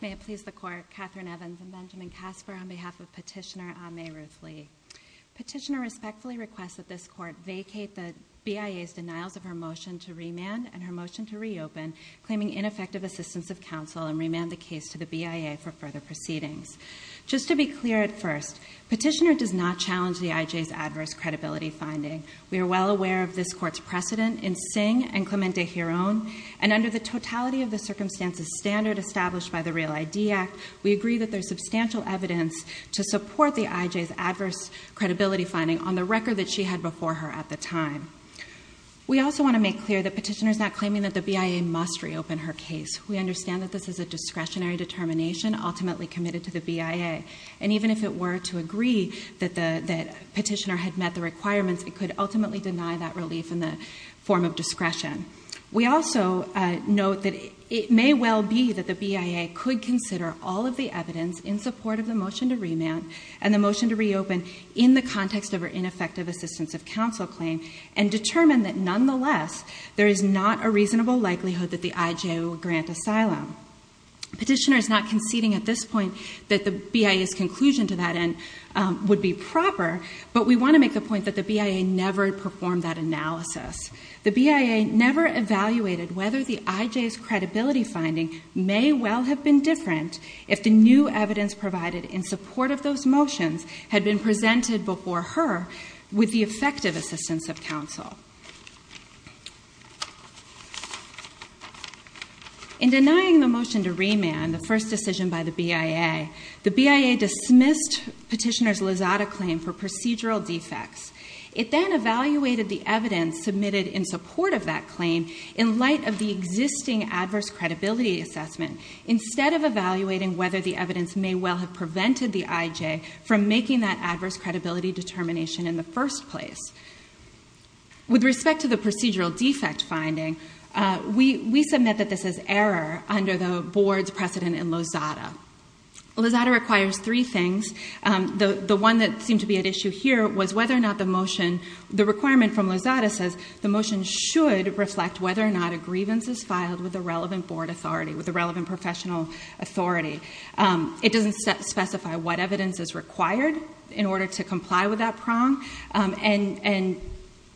May it please the Court, Katherine Evans and Benjamin Casper, on behalf of Petitioner Ah May Ruth Lee. Petitioner respectfully requests that this Court vacate the BIA's denials of her motion to remand and her motion to reopen, claiming ineffective assistance of counsel, and remand the case to the BIA for further proceedings. Just to be clear at first, Petitioner does not challenge the IJ's adverse credibility finding. We are well aware of this Court's precedent in Singh and Clemente Heron, and under the totality of the circumstances standard established by the REAL ID Act, we agree that there is substantial evidence to support the IJ's adverse credibility finding on the record that she had before her at the time. We also want to make clear that Petitioner is not claiming that the BIA must reopen her case. We understand that this is a discretionary determination ultimately committed to the BIA, and even if it were to agree that Petitioner had met the requirements, it could ultimately deny that relief in the form of discretion. We also note that it may well be that the BIA could consider all of the evidence in support of the motion to remand and the motion to reopen in the context of her ineffective assistance of counsel claim, and determine that nonetheless, there is not a reasonable likelihood that the IJ will grant asylum. Petitioner is not conceding at this point that the BIA's conclusion to that end would be proper, but we want to make the point that the BIA never performed that analysis. The BIA never evaluated whether the IJ's credibility finding may well have been different if the new evidence provided in support of those motions had been presented before her with the effective assistance of counsel. In denying the motion to remand, the first decision by the BIA, the BIA dismissed Petitioner's Lozada claim for procedural defects. It then evaluated the evidence submitted in support of that claim in light of the existing adverse credibility assessment instead of evaluating whether the evidence may well have taken place. With respect to the procedural defect finding, we submit that this is error under the board's precedent in Lozada. Lozada requires three things. The one that seemed to be at issue here was whether or not the motion, the requirement from Lozada says the motion should reflect whether or not a grievance is filed with the relevant board authority, with the relevant professional authority. It doesn't specify what evidence is required in order to comply with that prong. And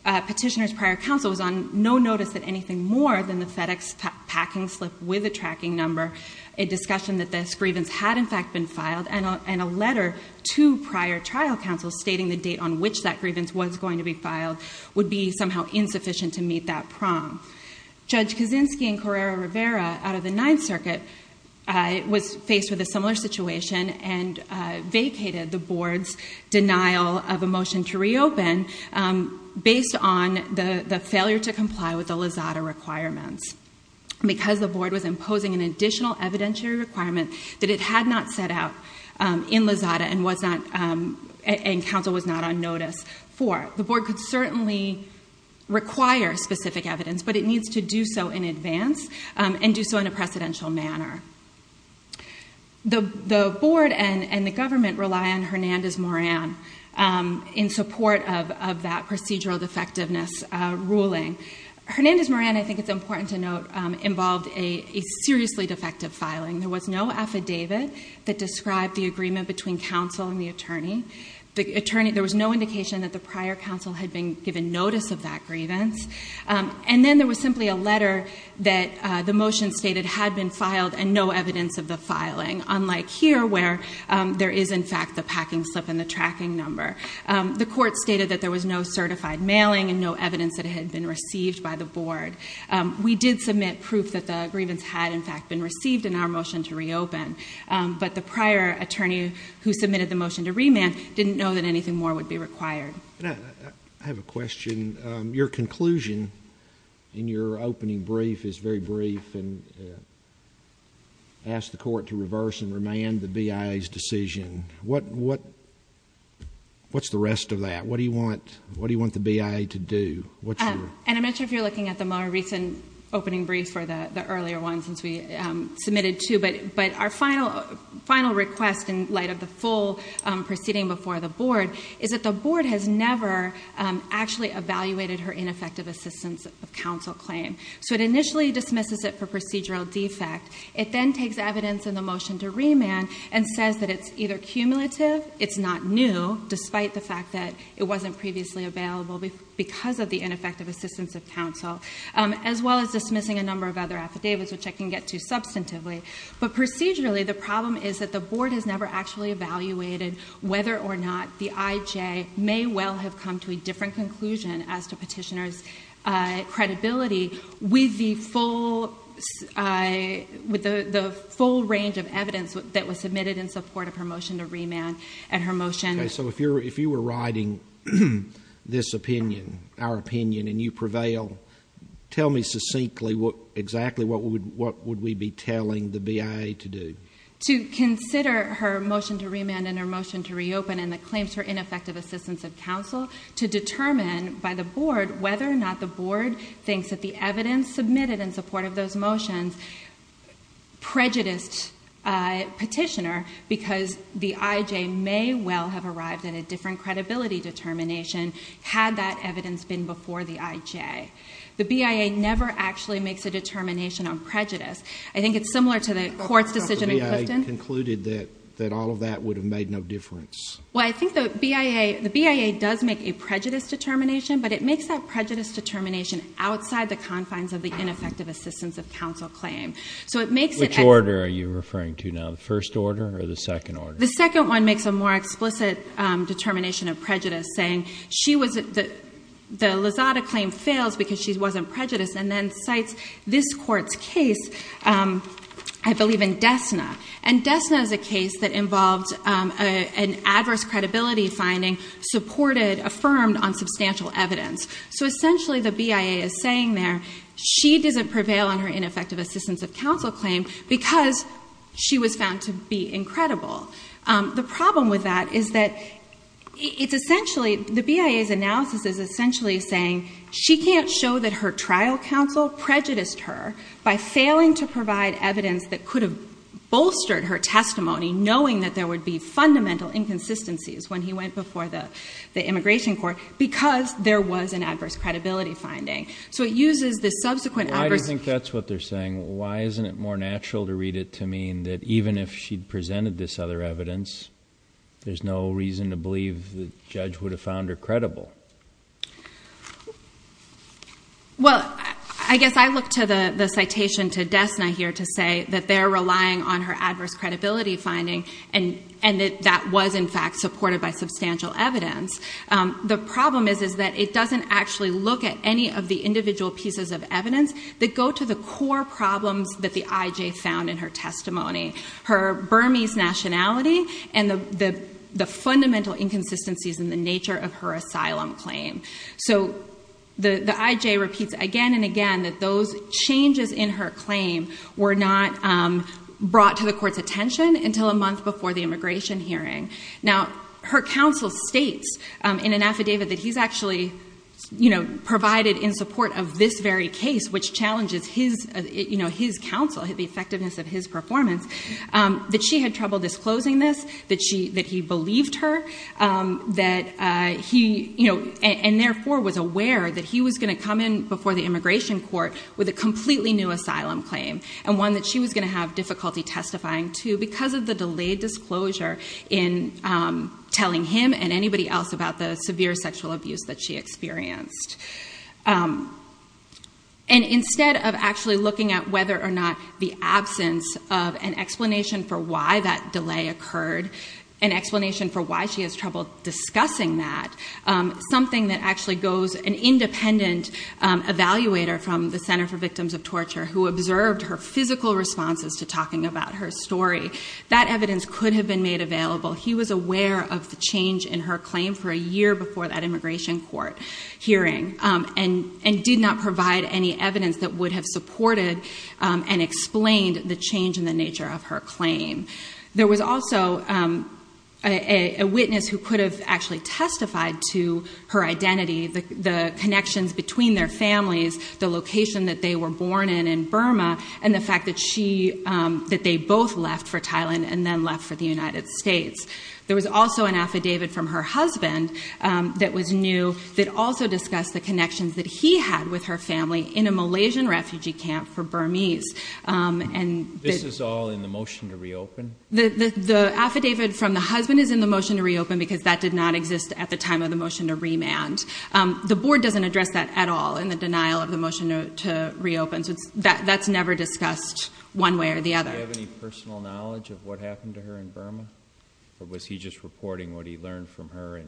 Petitioner's prior counsel was on no notice that anything more than the FedEx packing slip with a tracking number, a discussion that this grievance had in fact been filed, and a letter to prior trial counsel stating the date on which that grievance was going to be filed would be somehow insufficient to meet that prong. Judge Kaczynski and Correra-Rivera out of the Ninth Circuit was faced with a similar situation and vacated the board's denial of a motion to reopen based on the failure to comply with the Lozada requirements because the board was imposing an additional evidentiary requirement that it had not set out in Lozada and counsel was not on notice for. The board could certainly require specific evidence, but it needs to do so in advance and do so in a precedential manner. The board and the government rely on Hernandez-Moran in support of that procedural defectiveness ruling. Hernandez-Moran, I think it's important to note, involved a seriously defective filing. There was no affidavit that described the agreement between counsel and the attorney. There was no indication that the prior counsel had been given notice of that grievance. And then there was simply a letter that the motion stated had been filed and no evidence of the filing, unlike here where there is in fact the packing slip and the tracking number. The court stated that there was no certified mailing and no evidence that it had been received by the board. We did submit proof that the grievance had in fact been received in our motion to reopen, but the prior attorney who submitted the motion to remand didn't know that anything more would be required. I have a question. Your conclusion in your opening brief is very brief and asked the court to reverse and remand the BIA's decision. What's the rest of that? What do you want the BIA to do? And I'm not sure if you're looking at the more recent opening brief or the earlier one since we submitted two, but our final request in light of the full proceeding before the board is that the board has never actually evaluated her ineffective assistance of counsel claim. So it initially dismisses it for procedural defect. It then takes evidence in the motion to remand and says that it's either cumulative, it's not new, despite the fact that it wasn't previously available because of the ineffective assistance of counsel, as well as dismissing a number of other affidavits, which I can get to substantively. But procedurally, the problem is that the board has never actually evaluated whether or not the IJ may well have come to a different conclusion as to petitioner's credibility with the full range of evidence that was submitted in support of her motion to remand and her motion. Okay, so if you were writing this opinion, our opinion, and you prevail, tell me succinctly exactly what would we be telling the BIA to do? To consider her motion to remand and her motion to reopen and the claims for ineffective assistance of counsel, to determine by the board whether or not the board thinks that the evidence submitted in support of those motions prejudiced petitioner because the IJ may well have arrived at a different credibility determination had that evidence been before the IJ. The BIA never actually makes a determination on prejudice. I think it's similar to the court's decision in Clifton. But the BIA concluded that all of that would have made no difference. Well, I think the BIA does make a prejudice determination, but it makes that prejudice determination outside the confines of the ineffective assistance of counsel claim. So it makes it... Which order are you referring to now, the first order or the second order? The second one makes a more explicit determination of prejudice saying the Lozada claim fails because she wasn't prejudiced and then cites this court's case, I believe in Dessna. And Dessna is a case that involved an adverse credibility finding supported, affirmed on substantial evidence. So essentially the BIA is saying there, she doesn't prevail on her claim, which would be incredible. The problem with that is that it's essentially, the BIA's analysis is essentially saying she can't show that her trial counsel prejudiced her by failing to provide evidence that could have bolstered her testimony, knowing that there would be fundamental inconsistencies when he went before the immigration court because there was an adverse credibility finding. So it uses the subsequent adverse... Why do you think that's what they're saying? Why isn't it more natural to read it to mean that even if she'd presented this other evidence, there's no reason to believe the judge would have found her credible? Well, I guess I look to the citation to Dessna here to say that they're relying on her adverse credibility finding and that that was in fact supported by substantial evidence. The problem is that it doesn't actually look at any of the individual pieces of evidence that go to the core problems that the IJ found in her testimony, her Burmese nationality and the fundamental inconsistencies in the nature of her asylum claim. So the IJ repeats again and again that those changes in her claim were not brought to the court's attention until a month before the immigration hearing. Now, her counsel states in an affidavit that he's actually provided in support of this very case, which challenges his counsel, the effectiveness of his performance, that she had trouble disclosing this, that he believed her and therefore was aware that he was going to come in before the immigration court with a completely new asylum claim and one that she was going to have difficulty testifying to because of the delayed disclosure in telling him and anybody else about the severe sexual abuse that she experienced. And instead of actually looking at whether or not the absence of an explanation for why that delay occurred, an explanation for why she has trouble discussing that, something that actually goes, an independent evaluator from the Center for Victims of Torture who observed her physical responses to talking about her story, that evidence could have been made available. He was aware of the change in her claim for a year before that immigration court hearing and did not provide any evidence that would have supported and explained the change in the nature of her claim. There was also a witness who could have actually testified to her identity, the connections between their families, the location that they were born in in Burma, and the fact that she, that they both left for Thailand and then left for the United States. There was also an affidavit from her husband that was new that also discussed the connections that he had with her family in a Malaysian refugee camp for Burmese. This is all in the motion to reopen? The affidavit from the husband is in the motion to reopen because that did not exist at the time of the motion to remand. The board doesn't address that at all in the denial of the motion to reopen, so that's never discussed one way or the other. Does he have any personal knowledge of what happened to her in Burma? Or was he just reporting what he learned from her?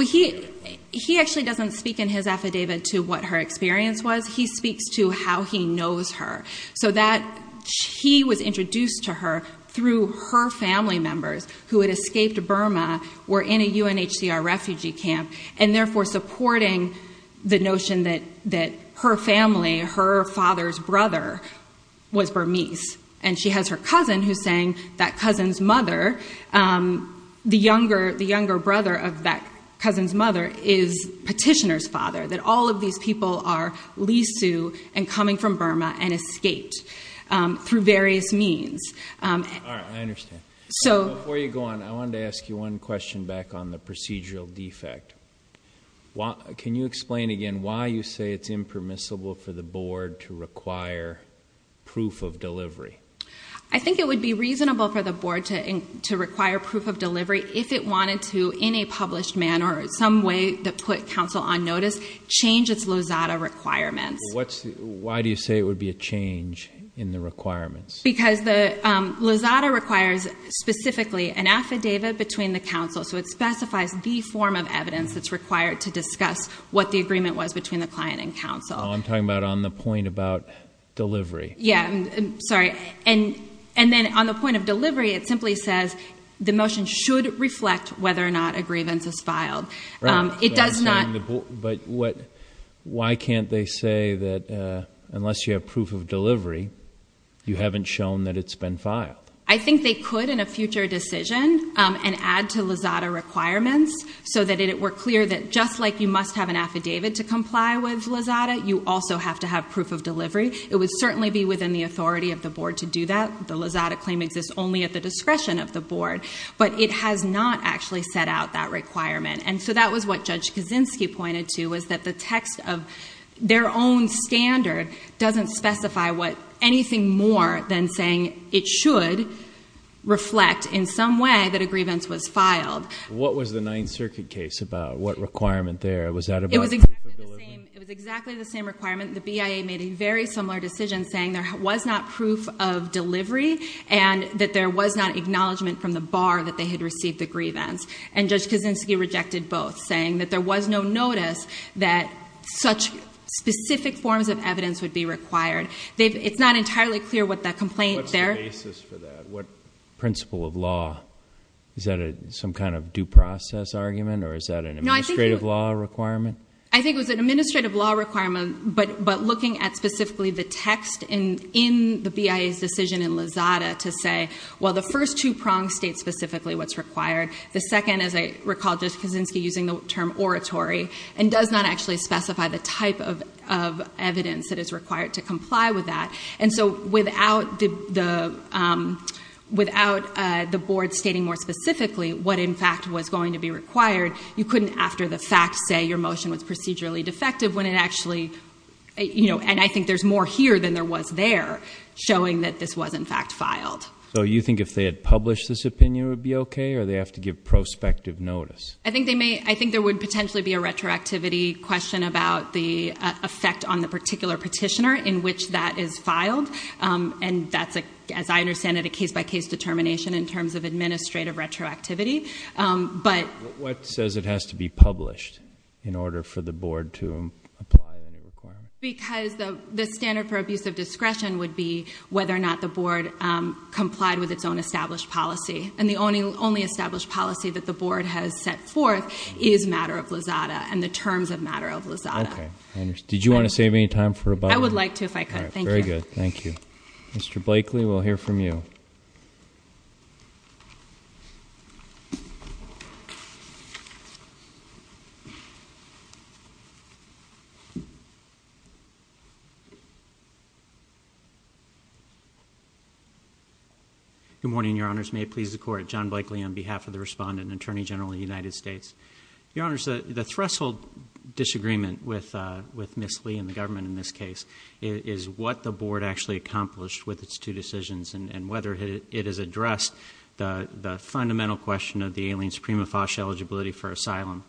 He actually doesn't speak in his affidavit to what her experience was. He speaks to how he knows her. So that, he was introduced to her through her family members who had escaped Burma, were in a UNHCR refugee camp, and therefore supporting the notion that her family, her She has her cousin who's saying that cousin's mother, the younger brother of that cousin's mother is petitioner's father, that all of these people are Lisu and coming from Burma and escaped through various means. All right, I understand. Before you go on, I wanted to ask you one question back on the procedural defect. Can you explain again why you say it's impermissible for the board to I think it would be reasonable for the board to require proof of delivery if it wanted to, in a published manner or some way that put counsel on notice, change its Lozada requirements. Why do you say it would be a change in the requirements? Because the Lozada requires specifically an affidavit between the counsel, so it specifies the form of evidence that's required to discuss what the agreement was between the client and counsel. Oh, I'm talking about on the point about delivery. Yeah, sorry. And and then on the point of delivery, it simply says the motion should reflect whether or not a grievance is filed. It does not. But what why can't they say that unless you have proof of delivery, you haven't shown that it's been filed? I think they could in a future decision and add to Lozada requirements so that it were clear that just like you must have an affidavit to comply with Lozada, you also have to have proof of delivery. It would certainly be within the authority of the board to do that. The Lozada claim exists only at the discretion of the board, but it has not actually set out that requirement. And so that was what Judge Kaczynski pointed to, was that the text of their own standard doesn't specify what anything more than saying it should reflect in some way that a grievance was filed. What was the Ninth Circuit case about? What requirement there? It was exactly the same requirement. The BIA made a very similar decision saying there was not proof of delivery and that there was not acknowledgment from the bar that they had received the grievance. And Judge Kaczynski rejected both, saying that there was no notice that such specific forms of evidence would be required. It's not entirely clear what that complaint there. What's the basis for that? What principle of law? Is that some kind of due process argument or is that an administrative law requirement? I think it was an administrative law requirement, but looking at specifically the text in the BIA's decision in Lozada to say, well, the first two prongs state specifically what's required. The second, as I recall, Judge Kaczynski using the term oratory and does not actually specify the type of evidence that is required to comply with that. And so without the board stating more specifically what in fact was going to be required, you can't say that their motion was procedurally defective when it actually, you know, and I think there's more here than there was there, showing that this was in fact filed. So you think if they had published this opinion it would be okay or they have to give prospective notice? I think there would potentially be a retroactivity question about the effect on the particular petitioner in which that is filed. And that's, as I understand it, a case-by-case determination in terms of administrative retroactivity. But... What says it has to be published in order for the board to apply any requirement? Because the standard for abuse of discretion would be whether or not the board complied with its own established policy. And the only established policy that the board has set forth is matter of Lozada and the terms of matter of Lozada. Okay. Did you want to save any time for about... I would like to if I could. Thank you. Very good. Thank you. Mr. Blakely, we'll hear from you. Good morning, Your Honors. May it please the Court. John Blakely on behalf of the Respondent and Attorney General of the United States. Your Honors, the threshold disagreement with Ms. Lee and the government in this case is what the board actually accomplished with its two decisions and whether it has addressed the fundamental question of the alien supremophage eligibility for asylum.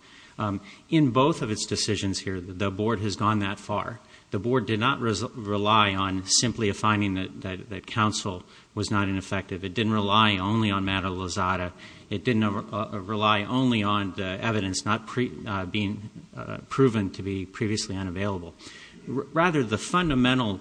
In both of its decisions here, the board has gone that far. The board did not rely on simply a finding that counsel was not ineffective. It didn't rely only on matter of Lozada. It didn't rely only on the evidence not being proven to be previously unavailable. Rather, the fundamental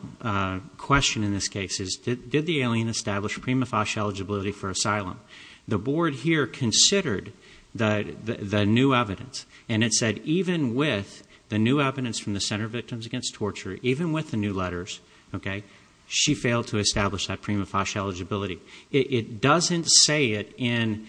question in this case is did the alien establish supremophage eligibility for asylum? The board here considered the new evidence and it said even with the new evidence from the Center of Victims Against Torture, even with the new letters, okay, she failed to establish that supremophage eligibility. It doesn't say it in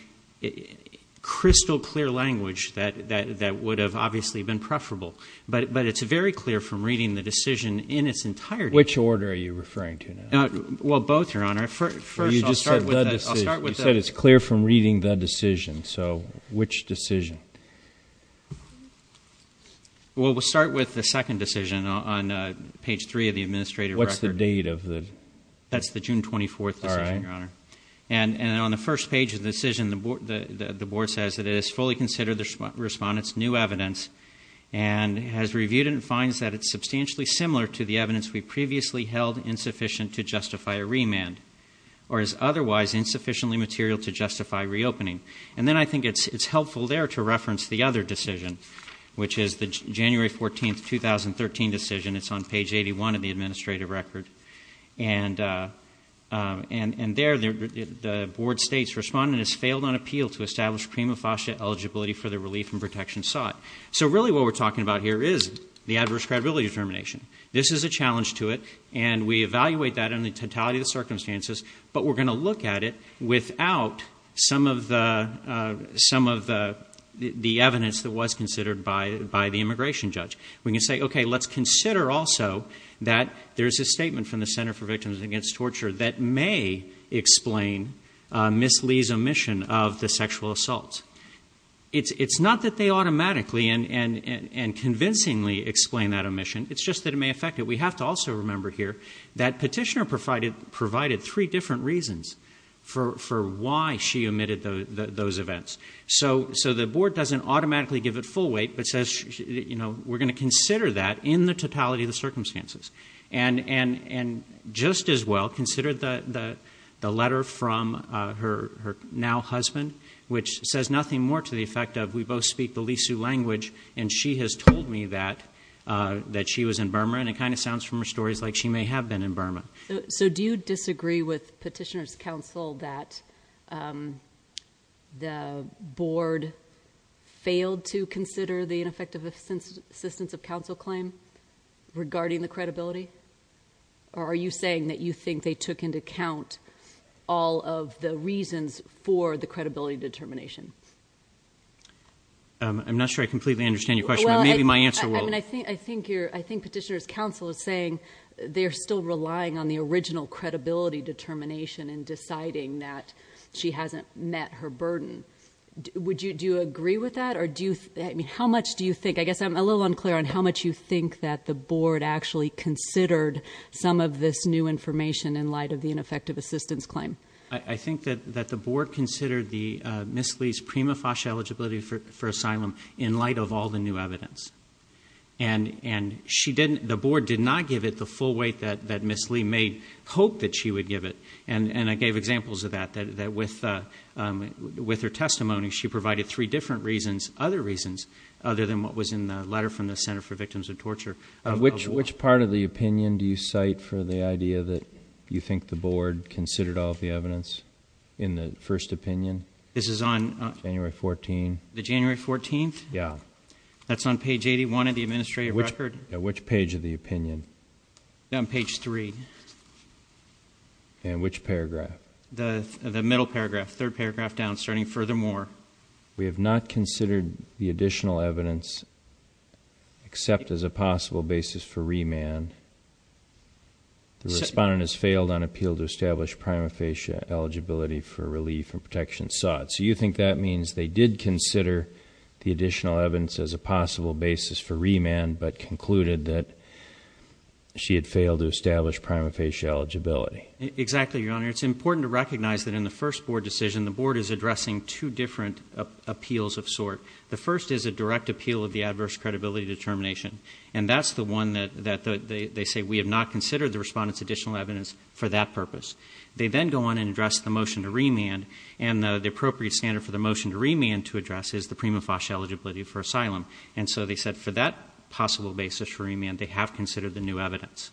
crystal clear language that would have obviously been preferable. But it's very clear from reading the decision in its entirety. Which order are you referring to now? Well, both, Your Honor. First, I'll start with the- Well, you just said the decision. You said it's clear from reading the decision. So which decision? Well, we'll start with the second decision on page three of the administrative record. What's the date of the- That's the June 24th decision, Your Honor. And on the first page of the decision, the board says that it has fully considered the decision, has reviewed it, and finds that it's substantially similar to the evidence we previously held insufficient to justify a remand or is otherwise insufficiently material to justify reopening. And then I think it's helpful there to reference the other decision, which is the January 14th, 2013 decision. It's on page 81 of the administrative record. And there, the board states, respondent has failed on appeal to establish supremophage eligibility for the relief and protection sought. So really what we're talking about here is the adverse credibility determination. This is a challenge to it, and we evaluate that in the totality of the circumstances, but we're going to look at it without some of the evidence that was considered by the immigration judge. We can say, okay, let's consider also that there's a statement from the Center for Victims Against Torture that may explain Ms. Lee's omission of the sexual assault. It's not that they automatically and convincingly explain that omission. It's just that it may affect it. We have to also remember here that petitioner provided three different reasons for why she omitted those events. So the board doesn't automatically give it full weight, but says, you know, we're going to consider that in the totality of the circumstances. And just as well, consider the letter from her now-husband, which says nothing more to the effect of, we both speak the Lee-Sue language, and she has told me that she was in Burma. And it kind of sounds from her stories like she may have been in Burma. So do you disagree with petitioner's counsel that the board failed to consider the ineffective assistance of counsel claim regarding the credibility? Or are you saying that you think they took into account all of the reasons for the credibility determination? I'm not sure I completely understand your question, but maybe my answer will. I think petitioner's counsel is saying they're still relying on the original credibility determination in deciding that she hasn't met her burden. Would you agree with that? How much do you think, I guess I'm a little unclear on how much you think that the board actually considered some of this new information in light of the ineffective assistance claim? I think that the board considered Ms. Lee's prima facie eligibility for asylum in light of all the new evidence. And the board did not give it the full weight that Ms. Lee may hope that she would give it. And I gave examples of that. That with her testimony, she provided three different reasons, other reasons, other than what was in the letter from the Center for Victims of Torture. Which part of the opinion do you cite for the idea that you think the board considered all of the evidence in the first opinion? This is on- January 14th. The January 14th? Yeah. That's on page 81 of the administrative record. Which page of the opinion? On page three. And which paragraph? The middle paragraph, third paragraph down, starting, furthermore. We have not considered the additional evidence, except as a possible basis for remand. The respondent has failed on appeal to establish prima facie eligibility for relief and protection sought. So you think that means they did consider the additional evidence as a possible basis for remand, but concluded that she had failed to establish prima facie eligibility? Exactly, Your Honor. It's important to recognize that in the first board decision, the board is addressing two different appeals of sort. The first is a direct appeal of the adverse credibility determination. And that's the one that they say, we have not considered the respondent's additional evidence for that purpose. They then go on and address the motion to remand, and the appropriate standard for the motion to remand to address is the prima facie eligibility for asylum. And so they said for that possible basis for remand, they have considered the new evidence.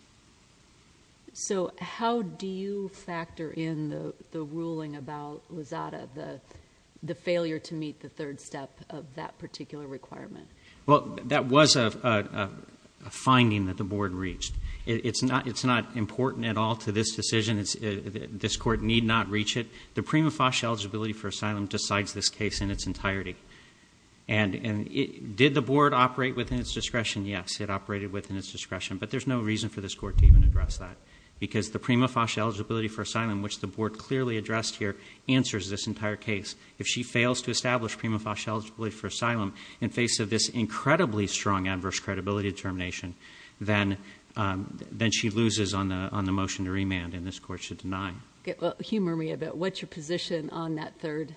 So how do you factor in the ruling about Lozada, the failure to meet the third step of that particular requirement? Well, that was a finding that the board reached. It's not important at all to this decision. This court need not reach it. The prima facie eligibility for asylum decides this case in its entirety. And did the board operate within its discretion? Yes, it operated within its discretion. But there's no reason for this court to even address that. Because the prima facie eligibility for asylum, which the board clearly addressed here, answers this entire case. If she fails to establish prima facie eligibility for asylum in face of this incredibly strong adverse credibility determination, then she loses on the motion to remand, and this court should deny. Humor me a bit. What's your position on that third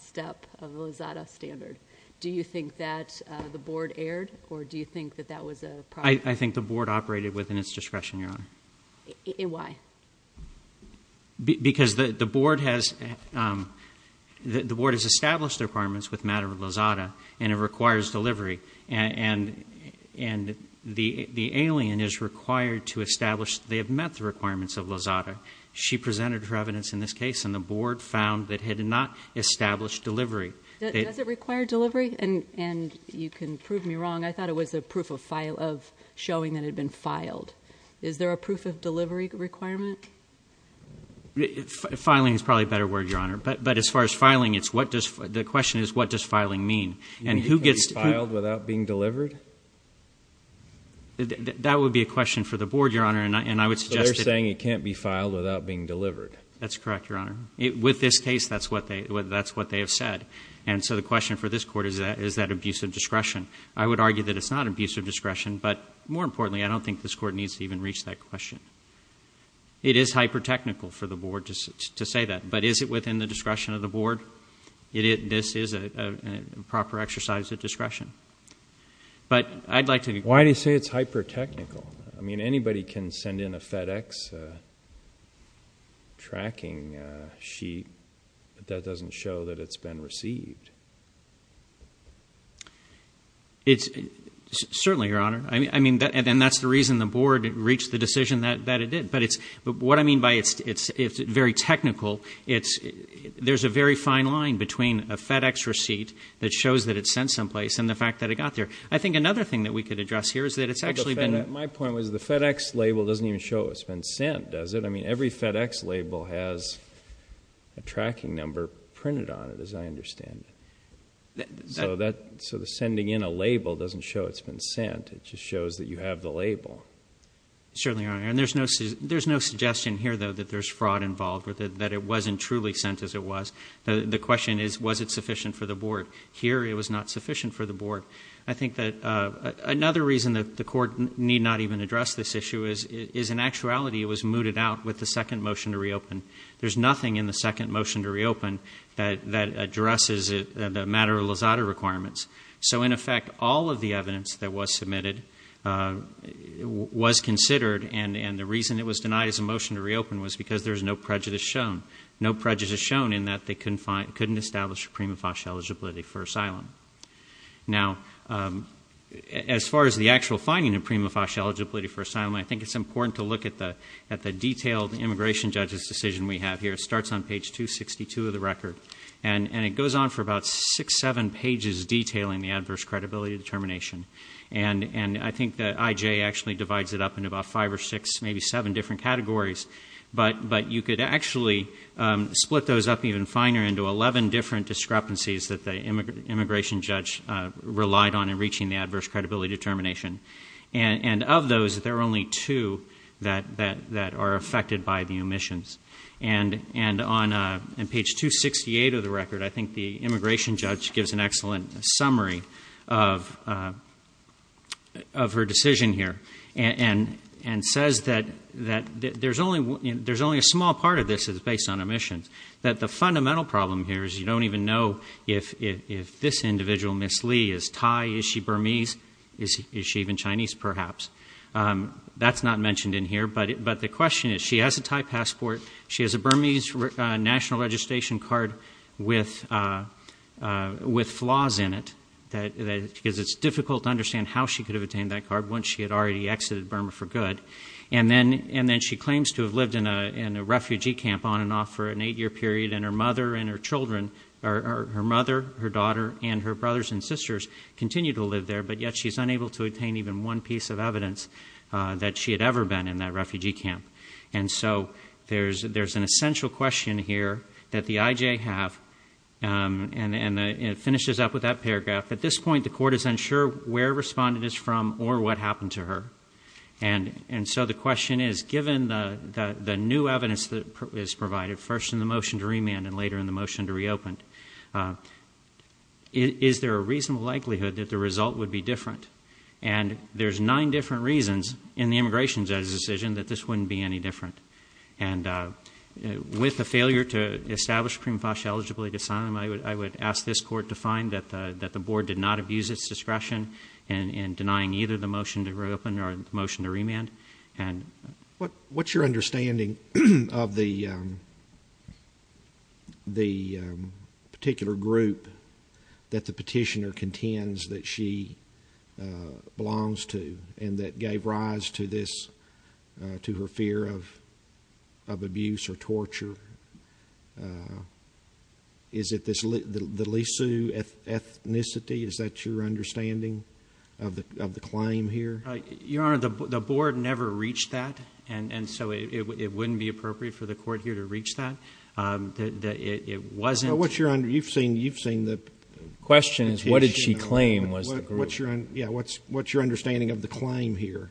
step of Lozada standard? Do you think that the board erred, or do you think that that was a problem? I think the board operated within its discretion, Your Honor. Why? Because the board has established requirements with matter of Lozada, and it requires delivery. And the alien is required to establish they have met the requirements of Lozada. She presented her evidence in this case, and the board found that had it not established delivery. Does it require delivery? And you can prove me wrong. I thought it was a proof of showing that it had been filed. Is there a proof of delivery requirement? Filing is probably a better word, Your Honor. But as far as filing, the question is, what does filing mean? And who gets- Can it be filed without being delivered? That would be a question for the board, Your Honor, and I would suggest that- They're saying it can't be filed without being delivered. That's correct, Your Honor. With this case, that's what they have said. And so the question for this court is that abuse of discretion. I would argue that it's not abuse of discretion, but more importantly, I don't think this court needs to even reach that question. It is hyper-technical for the board to say that, but is it within the discretion of the board? This is a proper exercise of discretion. But I'd like to- Why do you say it's hyper-technical? I mean, anybody can send in a FedEx tracking sheet, but that doesn't show that it's been received. It's, certainly, Your Honor, and that's the reason the board reached the decision that it did. But what I mean by it's very technical, there's a very fine line between a FedEx receipt that shows that it's sent someplace and the fact that it got there. I think another thing that we could address here is that it's actually been- My point was the FedEx label doesn't even show it's been sent, does it? I mean, every FedEx label has a tracking number printed on it, as I understand it. So the sending in a label doesn't show it's been sent, it just shows that you have the label. Certainly, Your Honor, and there's no suggestion here, though, that there's fraud involved, or that it wasn't truly sent as it was. The question is, was it sufficient for the board? Here, it was not sufficient for the board. I think that another reason that the court need not even address this issue is in actuality, it was mooted out with the second motion to reopen. There's nothing in the second motion to reopen that addresses the matter of Lozada requirements. So in effect, all of the evidence that was submitted was considered, and the reason it was denied as a motion to reopen was because there's no prejudice shown. No prejudice shown in that they couldn't establish a prima facie eligibility for asylum. Now, as far as the actual finding of prima facie eligibility for asylum, I think it's important to look at the detailed immigration judge's decision we have here. It starts on page 262 of the record, and it goes on for about six, seven pages detailing the adverse credibility determination. And I think that IJ actually divides it up into about five or six, maybe seven different categories. But you could actually split those up even finer into 11 different discrepancies that the immigration judge relied on in reaching the adverse credibility determination. And of those, there are only two that are affected by the omissions. And on page 268 of the record, I think the immigration judge gives an excellent summary of her decision here, and says that there's only a small part of this is based on omissions. That the fundamental problem here is you don't even know if this individual, Miss Lee, is Thai, is she Burmese? Is she even Chinese, perhaps? That's not mentioned in here, but the question is, she has a Thai passport. She has a Burmese national registration card with flaws in it, because it's difficult to understand how she could have obtained that card once she had already exited Burma for good. And then she claims to have lived in a refugee camp on and off for an eight year period. And her mother and her children, her mother, her daughter, and her brothers and sisters continue to live there. But yet she's unable to obtain even one piece of evidence that she had ever been in that refugee camp. And so there's an essential question here that the IJ have, and it finishes up with that paragraph. At this point, the court is unsure where respondent is from or what happened to her. And so the question is, given the new evidence that is provided, first in the motion to remand and later in the motion to reopen, is there a reasonable likelihood that the result would be different? And there's nine different reasons in the immigration judge's decision that this wouldn't be any different. And with the failure to establish Primfash eligibly to sign them, I would ask this court to find that the board did not abuse its discretion in denying either the motion to reopen or the motion to remand. And- What's your understanding of the particular group that the petitioner contends that she belongs to and that gave rise to this, to her fear of abuse or torture? Is it the Lisu ethnicity, is that your understanding of the claim here? Your Honor, the board never reached that, and so it wouldn't be appropriate for the court here to reach that. It wasn't- What's your under, you've seen the- Question is, what did she claim was the group? Yeah, what's your understanding of the claim here?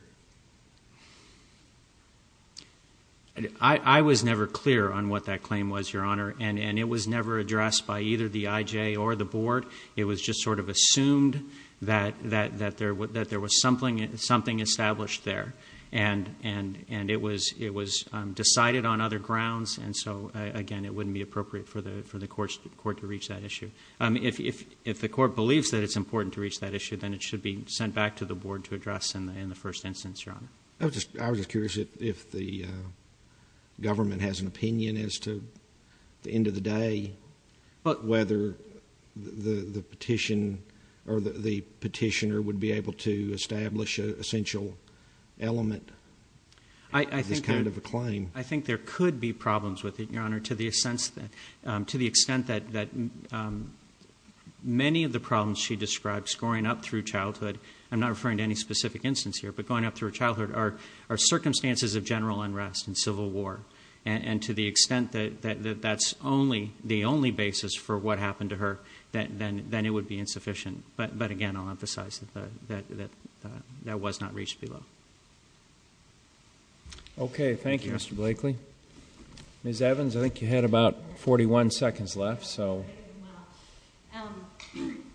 I was never clear on what that claim was, Your Honor, and it was never addressed by either the IJ or the board. It was just sort of assumed that there was something established there. And it was decided on other grounds, and so again, it wouldn't be appropriate for the court to reach that issue. If the court believes that it's important to reach that issue, then it should be sent back to the board to address in the first instance, Your Honor. I was just curious if the government has an opinion as to the end of the day, whether the petitioner would be able to establish an essential element of this kind of a claim. I think there could be problems with it, Your Honor, to the extent that many of the problems she describes growing up through childhood, I'm not referring to any specific instance here, but growing up through childhood are circumstances of general unrest and civil war. And to the extent that that's the only basis for what happened to her, then it would be insufficient. But again, I'll emphasize that that was not reached below. Okay, thank you, Mr. Blakely. Ms. Evans, I think you had about 41 seconds left, so.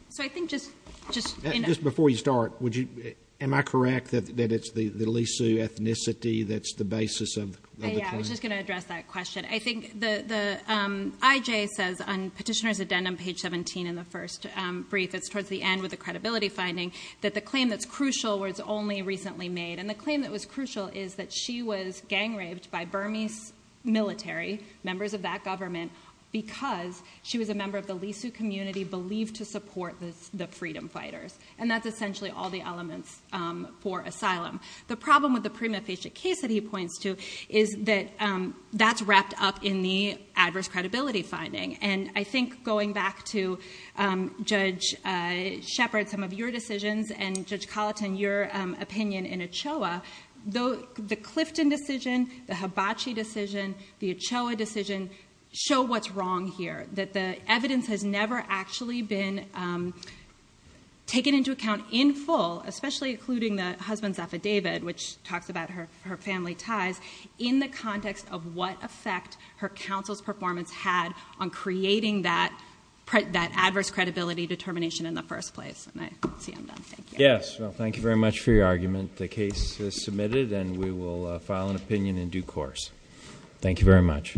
So I think just- Just before you start, am I correct that it's the Lisu ethnicity that's the basis of the claim? Yeah, I was just going to address that question. I think the IJ says on petitioner's addendum page 17 in the first brief, it's towards the end with the credibility finding, that the claim that's crucial was only recently made. And the claim that was crucial is that she was gang raped by Burmese military, members of that government, because she was a member of the Lisu community believed to support the freedom fighters. And that's essentially all the elements for asylum. The problem with the prima facie case that he points to is that that's wrapped up in the adverse credibility finding. And I think going back to Judge Shepard, some of your decisions, and Judge Colleton, your opinion in Ochoa, the Clifton decision, the Hibachi decision, the Ochoa decision show what's wrong here. That the evidence has never actually been taken into account in full, especially including the husband's affidavit, which talks about her family ties, in the context of what effect her counsel's performance had on creating that adverse credibility determination in the first place, and I see I'm done, thank you. Yes, well thank you very much for your argument. The case is submitted and we will file an opinion in due course. Thank you very much.